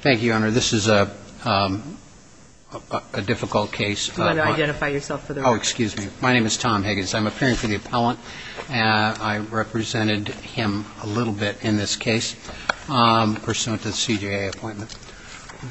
Thank you, Your Honor. This is a difficult case. Do you want to identify yourself for the record? Oh, excuse me. My name is Tom Higgins. I'm appearing for the appellant. I represented him a little bit in this case pursuant to the CJA appointment.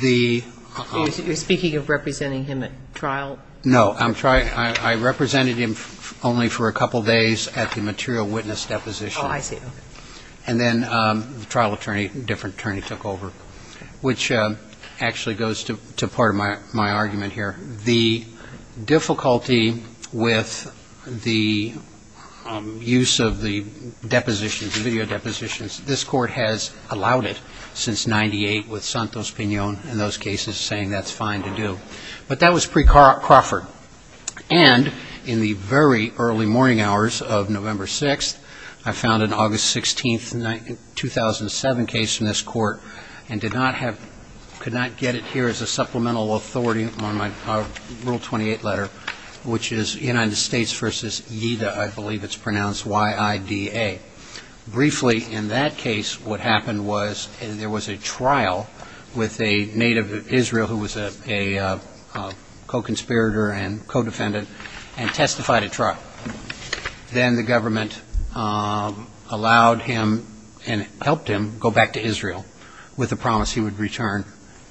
You're speaking of representing him at trial? No. I represented him only for a couple of days at the material witness deposition. Oh, I see. And then the trial attorney, a different attorney, took over, which actually goes to part of my argument here. The difficulty with the use of the depositions, the video depositions, this Court has allowed it since 1998 with Santos-Piñon in those cases saying that's fine to do. But that was pre-Crawford. And in the very early morning hours of November 6th, I found an August 16th, 2007 case in this Court and could not get it here as a supplemental authority on my Rule 28 letter, which is United States v. Yeida. I believe it's pronounced Y-I-D-A. Briefly, in that and co-defendant and testified at trial. Then the government allowed him and helped him go back to Israel with a promise he would return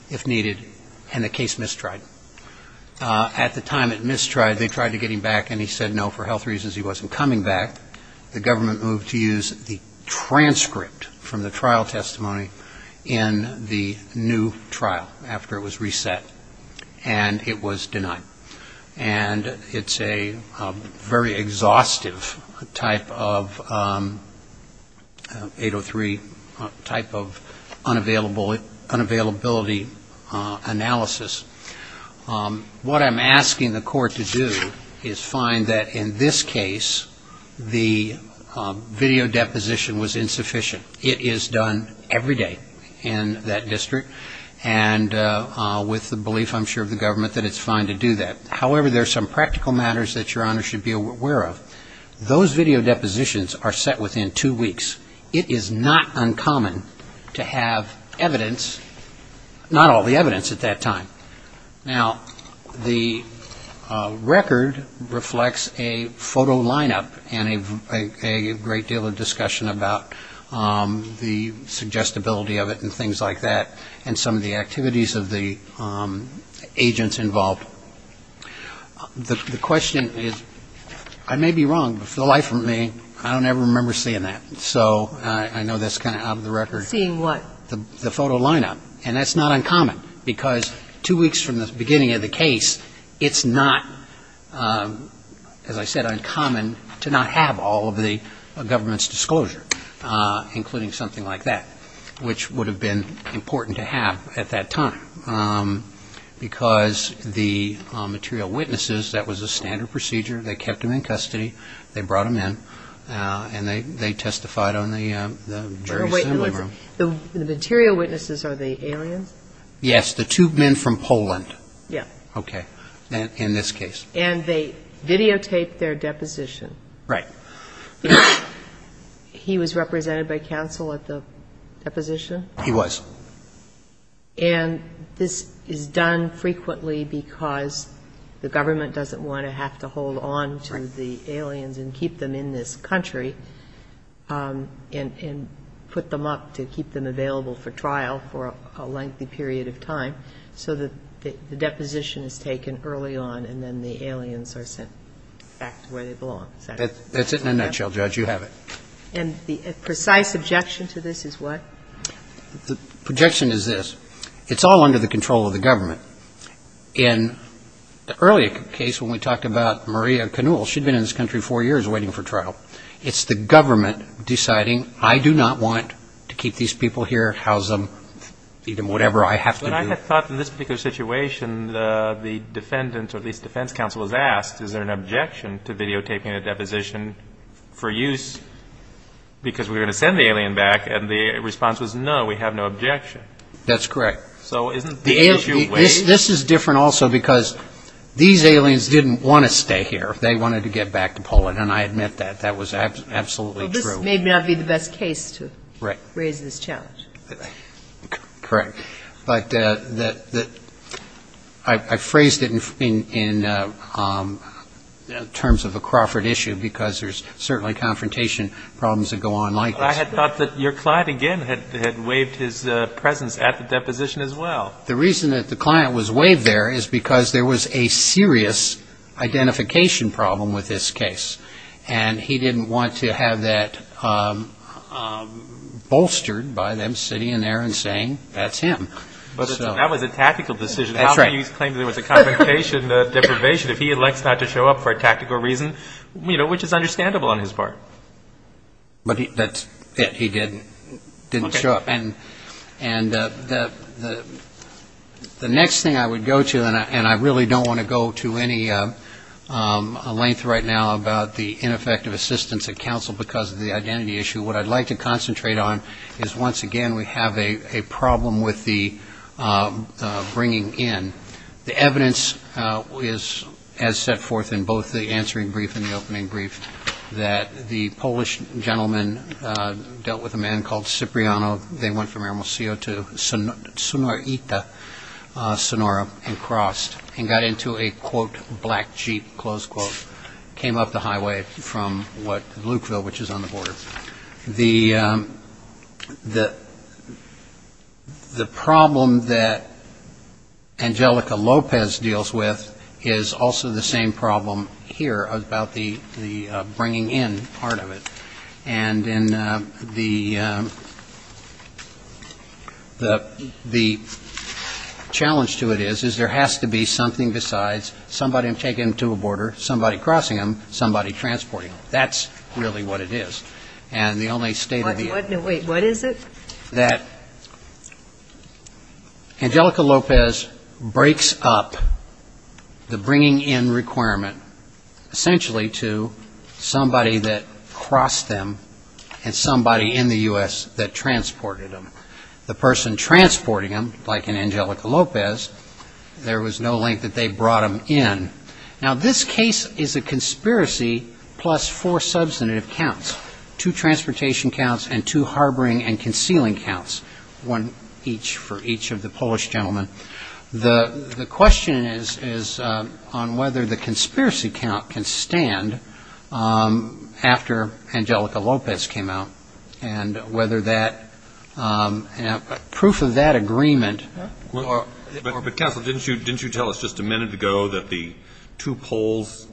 if needed and the case mistried. At the time it mistried, they tried to get him back and he said no for health reasons he wasn't coming back. The government moved to use the transcript from the trial testimony in the new trial after it was reset. And it was denied. And it's a very exhaustive type of 803 type of unavailability analysis. What I'm asking the Court to do is find that in this case the video deposition was insufficient. It is done every day in that district. And with the belief, I'm sure, of the government that it's fine to do that. However, there are some practical matters that Your Honor should be aware of. Those video depositions are set within two weeks. It is not uncommon to have evidence, not all the evidence at that time. Now, the record reflects a photo lineup and a great deal of discussion about the suggestibility of it and things like that. And some of the activities of the agents involved. The question is, I may be wrong, but for the life of me, I don't ever remember seeing that. So I know that's kind of out of the record. Seeing what? The photo lineup. And that's not uncommon. Because two weeks from the beginning of the case, it's not, as I said, uncommon to not have all of the government's disclosure, including something like that, which would have been important to have at that time. Because the material witnesses, that was the standard procedure. They kept them in custody. They brought them in. And they testified on the very similar basis. The material witnesses are the aliens? Yes. The two men from Poland. Yes. Okay. In this case. And they videotaped their deposition. Right. He was represented by counsel at the deposition? He was. And this is done frequently because the government doesn't want to have to hold on to the aliens and keep them in this country and put them up to keep them available for trial for a lengthy period of time so that the deposition is taken early on and then the aliens are sent back to where they belong. That's it in a nutshell, Judge. You have it. And the precise objection to this is what? The projection is this. It's all under the control of the government. In the earlier case when we talked about Maria Canul, she'd been in this country four years waiting for trial. It's the government deciding, I do not want to keep these people here, house them, feed them, whatever I have to do. But I had thought in this particular situation, the defendant, or at least defense counsel, was asked, is there an objection to videotaping a deposition for use because we're going to send the alien back? And the response was, no, we have no objection. That's correct. So isn't the issue waived? This is different also because these aliens didn't want to stay here. They wanted to get back to Poland. And I admit that. That was absolutely true. Well, this may not be the best case to raise this challenge. Correct. But I phrased it in terms of a Crawford issue because there's certainly confrontation problems that go on like this. I had thought that your client, again, had waived his presence at the deposition as well. The reason that the client was waived there is because there was a serious identification problem with this case. And he didn't want to have that bolstered by them sitting in there and saying, that's him. But that was a tactical decision. That's right. How can you claim there was a confrontation, deprivation, if he elects not to show up for a tactical reason, which is understandable on his part. But that's it. He didn't show up. And the next thing I would go to, and I really don't want to go to any length right now about the ineffective assistance of counsel because of the identity issue. What I'd like to concentrate on is, once again, we have a problem with the bringing in. The evidence is, as set forth in both the answering brief and the opening brief, that the Polish gentleman dealt with a man called Cipriano. They went from Aramco to Sonora and crossed and got into a, quote, black Jeep, close quote. Came up the highway from what, Lukeville, which is on the border. The problem that Angelica Lopez deals with is also the same problem here about the bringing in part of it. And the challenge to it is, is there has to be something besides somebody taking him to a border, somebody crossing him, somebody transporting him. That's really what it is. And the only state of the art is that Angelica Lopez breaks up the bringing in requirement essentially to somebody that crossed them and somebody in the U.S. that transported them. The person transporting him, like in Angelica Lopez, there was no link that they brought him in. Now, this case is a conspiracy plus four substantive counts. Two transportation counts and two harboring and concealing counts. One each for each of the Polish gentlemen. The question is on whether the conspiracy count can stand after Angelica Lopez came out and whether that proof of that agreement But Counsel, didn't you tell us just a minute ago that the two Poles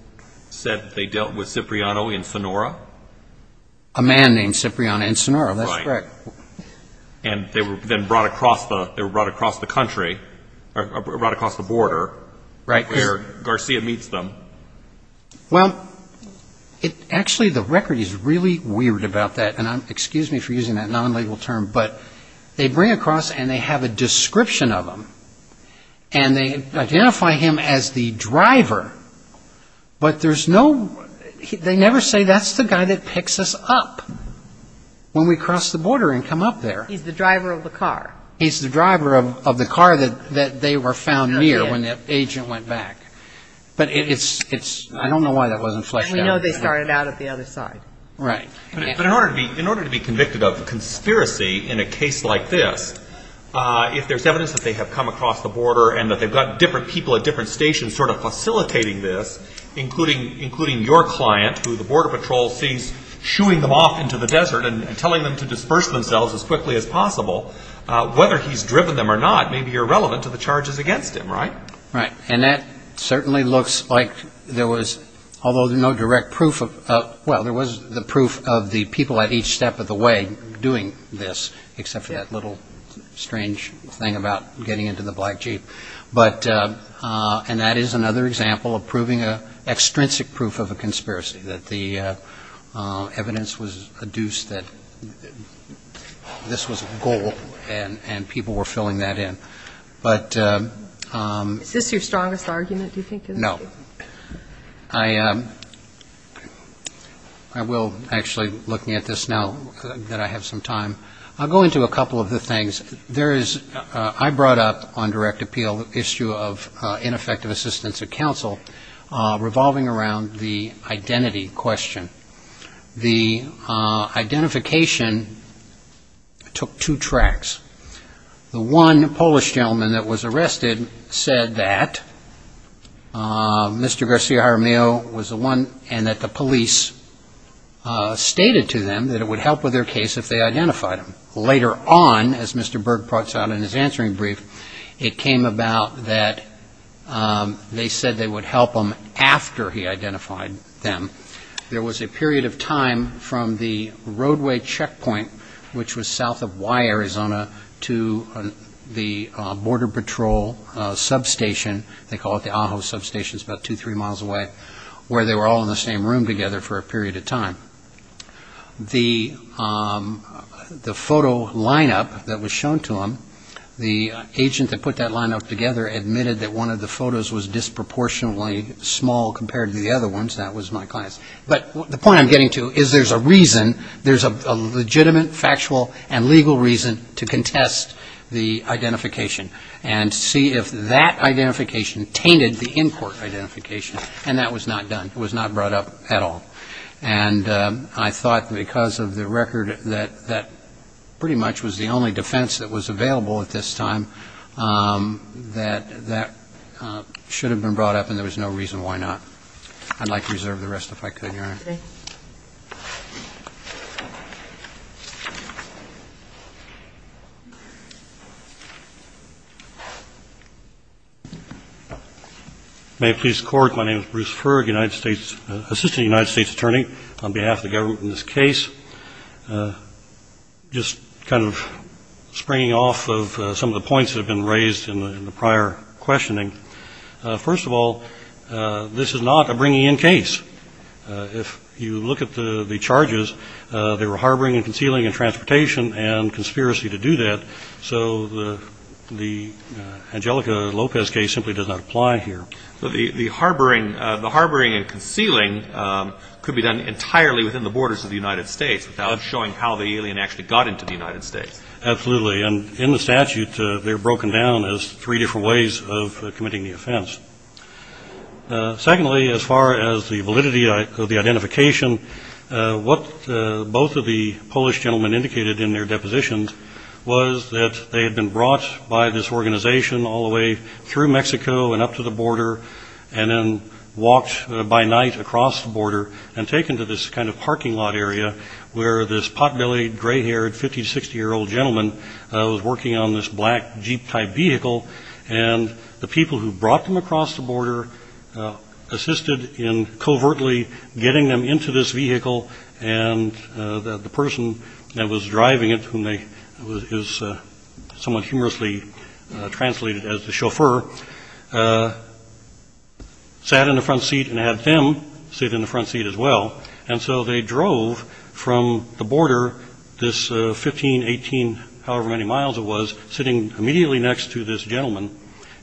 said they dealt with Cipriano and Sonora? A man named Cipriano and Sonora. That's correct. And they were then brought across the country, brought across the border where Garcia meets them. Well, actually the record is really weird about that. And excuse me for using that non-legal term, but they bring across and they have a description of him. And they identify him as the driver. But there's no, they never say that's the guy that picks us up when we cross the border and come up there. He's the driver of the car. He's the driver of the car that they were found near when the agent went back. But it's, I don't know why that wasn't flushed out. And we know they started out at the other side. Right. But in order to be convicted of conspiracy in a case like this, if there's evidence that they have come across the border and that they've got different people at different stations sort of facilitating this, including your client who the border patrol sees shooing them off into the desert and telling them to disperse themselves as quickly as possible, whether he's driven them or not may be irrelevant to the charges against him, right? Right. And that certainly looks like there was, although no direct proof of, well, there was the proof of the people at each step of the way doing this, except for that little strange thing about getting into the black Jeep. But, and that is another example of proving an extrinsic proof of a conspiracy, that the evidence was adduced that this was a goal and people were filling that in. Is this your strongest argument, do you think? No. I will actually, looking at this now that I have some time, I'll go into a couple of the things. There is, I brought up on direct appeal the issue of ineffective assistance of counsel, revolving around the identity question. The identification took two tracks. The one Polish gentleman that was arrested said that Mr. Garcia Jaramillo was the one and that the police stated to them that it would help with their case if they identified him. Later on, as Mr. Berg points out in his answering brief, it came about that they said they would help him after he identified them. There was a period of time from the roadway checkpoint, which was south of Y, Arizona, to the Border Patrol substation, they call it the Ajo substation, it's about two, three miles away, where they were all in the same room together for a period of time. The photo lineup that was shown to them, the agent that put that lineup together admitted that one of the photos was disproportionately small compared to the other ones, that was my client's. But the point I'm getting to is there's a reason, there's a legitimate factual and legal reason to contest the identification and see if that identification tainted the in-court identification. And that was not done. It was not brought up at all. And I thought because of the record that pretty much was the only defense that was available at this time, that that should have been brought up and there was no reason why not. I'd like to reserve the rest if I could, Your Honor. Okay. May it please the Court, my name is Bruce Ferg, Assistant United States Attorney on behalf of the government in this case. Just kind of springing off of some of the points that have been raised in the prior questioning, first of all, this is not a bringing in case. If you look at the charges, there were harboring and concealing and transportation and conspiracy to do that. So the Angelica Lopez case simply does not apply here. The harboring and concealing could be done entirely within the borders of the United States without showing how the alien actually got into the United States. Absolutely. And in the statute, they're broken down as three different ways of committing the offense. Secondly, as far as the validity of the identification, what both of the Polish gentlemen indicated in their depositions was that they had been brought by this organization all the way through Mexico and up to the border and then walked by night across the border and taken to this kind of parking lot area where this pot-bellied, gray-haired, 50-60-year-old gentleman was working on this black Jeep-type vehicle. And the people who brought them across the border assisted in covertly getting them into this vehicle, and the person that was driving it, who is somewhat humorously translated as the chauffeur, sat in the front seat and had them sit in the front seat as well. And so they drove from the border, this 15, 18, however many miles it was, sitting immediately next to this gentleman.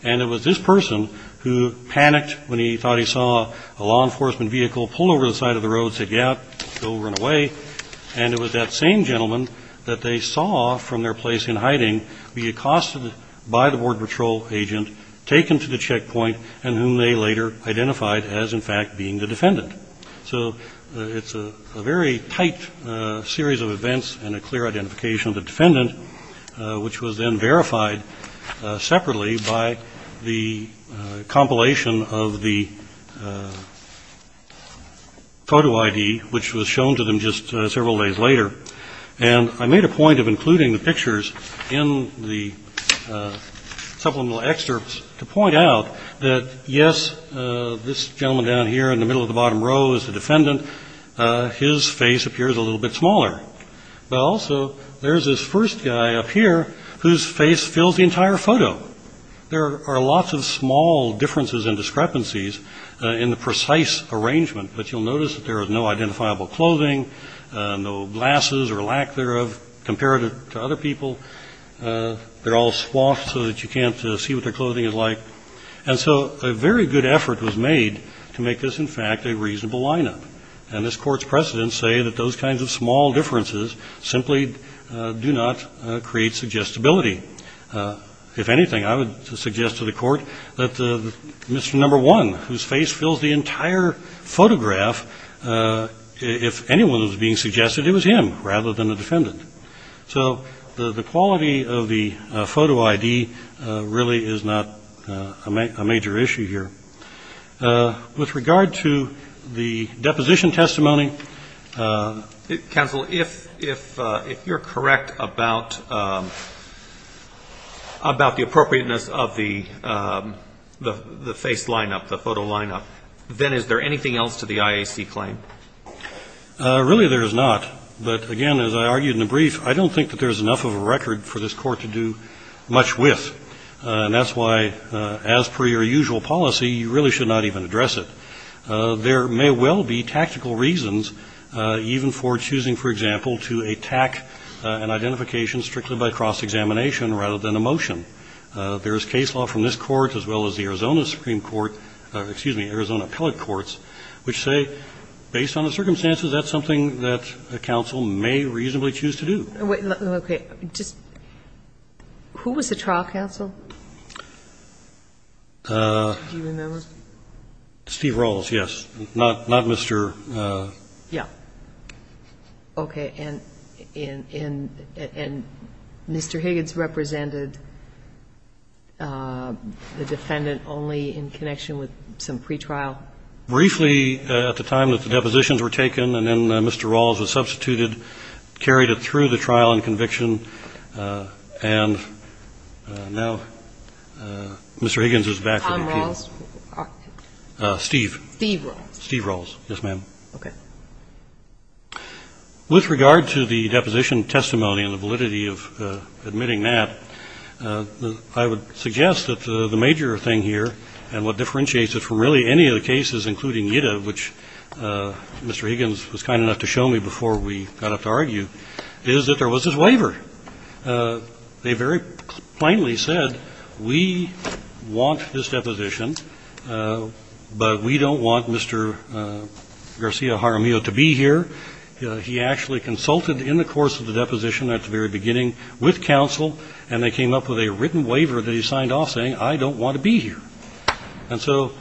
And it was this person who panicked when he thought he saw a law enforcement vehicle, pulled over to the side of the road, said, yeah, go, run away. And it was that same gentleman that they saw from their place in hiding be accosted by the Border Patrol agent, taken to the checkpoint, and whom they later identified as, in fact, being the defendant. So it's a very tight series of events and a clear identification of the defendant, which was then verified separately by the compilation of the photo ID, which was shown to them just several days later. And I made a point of including the pictures in the supplemental excerpts to point out that, yes, this gentleman down here in the middle of the bottom row is the defendant. His face appears a little bit smaller. Well, so there's this first guy up here whose face fills the entire photo. There are lots of small differences and discrepancies in the precise arrangement, but you'll notice that there is no identifiable clothing, no glasses or lack thereof compared to other people. They're all swathed so that you can't see what their clothing is like. And so a very good effort was made to make this, in fact, a reasonable lineup. And this Court's precedents say that those kinds of small differences simply do not create suggestibility. If anything, I would suggest to the Court that Mr. Number 1, whose face fills the entire photograph, if anyone was being suggested, it was him rather than the defendant. So the quality of the photo ID really is not a major issue here. With regard to the deposition testimony. Counsel, if you're correct about the appropriateness of the face lineup, the photo lineup, then is there anything else to the IAC claim? Really there is not. But, again, as I argued in the brief, I don't think that there's enough of a record for this Court to do much with. And that's why, as per your usual policy, you really should not even address it. There may well be tactical reasons even for choosing, for example, to attack an identification strictly by cross-examination rather than a motion. There is case law from this Court as well as the Arizona Supreme Court or, excuse me, Arizona appellate courts which say, based on the circumstances, that's something that a counsel may reasonably choose to do. Okay. Just who was the trial counsel? Do you remember? Steve Rawls, yes. Not Mr. ---- Yeah. Okay. And Mr. Higgins represented the defendant only in connection with some pretrial? Briefly at the time that the depositions were taken and then Mr. Rawls was substituted, carried it through the trial and conviction, and now Mr. Higgins is back to the appeal. Steve Rawls? Steve. Steve Rawls. Steve Rawls, yes, ma'am. Okay. With regard to the deposition testimony and the validity of admitting that, I would suggest that the major thing here and what differentiates it from really any of the cases, including Ida, which Mr. Higgins was kind enough to show me before we got up to argue, is that there was this waiver. They very plainly said, we want this deposition, but we don't want Mr. Garcia Jaramillo to be here. He actually consulted in the course of the deposition at the very beginning with counsel, and they came up with a written waiver that he signed off saying, I don't want to be here. And so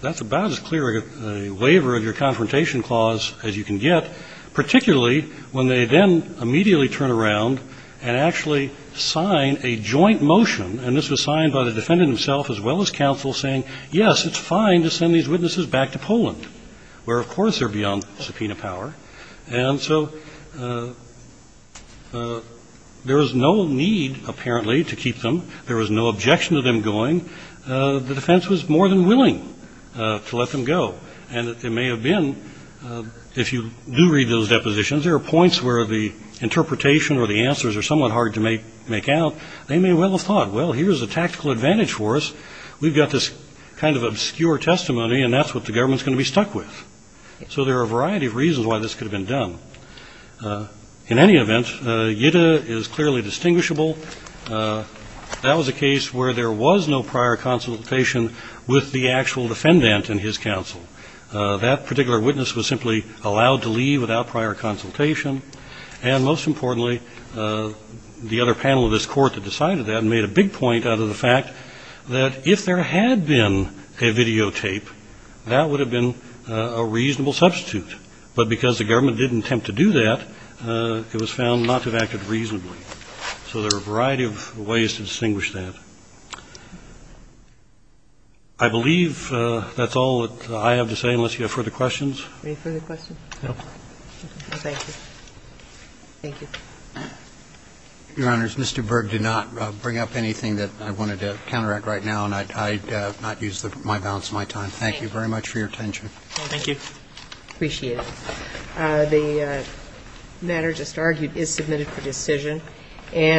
that's about as clear a waiver of your confrontation clause as you can get, particularly when they then immediately turn around and actually sign a joint motion, and this was signed by the defendant himself as well as counsel, saying, yes, it's fine to send these witnesses back to Poland, where, of course, they're beyond subpoena power. And so there was no need, apparently, to keep them. There was no objection to them going. The defense was more than willing to let them go. And it may have been, if you do read those depositions, there are points where the interpretation or the answers are somewhat hard to make out. They may well have thought, well, here's a tactical advantage for us. We've got this kind of obscure testimony, and that's what the government is going to be stuck with. So there are a variety of reasons why this could have been done. In any event, Yida is clearly distinguishable. That was a case where there was no prior consultation with the actual defendant and his counsel. That particular witness was simply allowed to leave without prior consultation. And most importantly, the other panel of this court that decided that made a big point out of the fact that if there had been a videotape, that would have been a reasonable substitute. But because the government didn't attempt to do that, it was found not to have acted reasonably. So there are a variety of ways to distinguish that. I believe that's all that I have to say, unless you have further questions. Any further questions? No. Thank you. Thank you. Your Honors, Mr. Berg did not bring up anything that I wanted to counteract right now, and I'd not use my balance of my time. Thank you very much for your attention. Thank you. Appreciate it. The matter just argued is submitted for decision.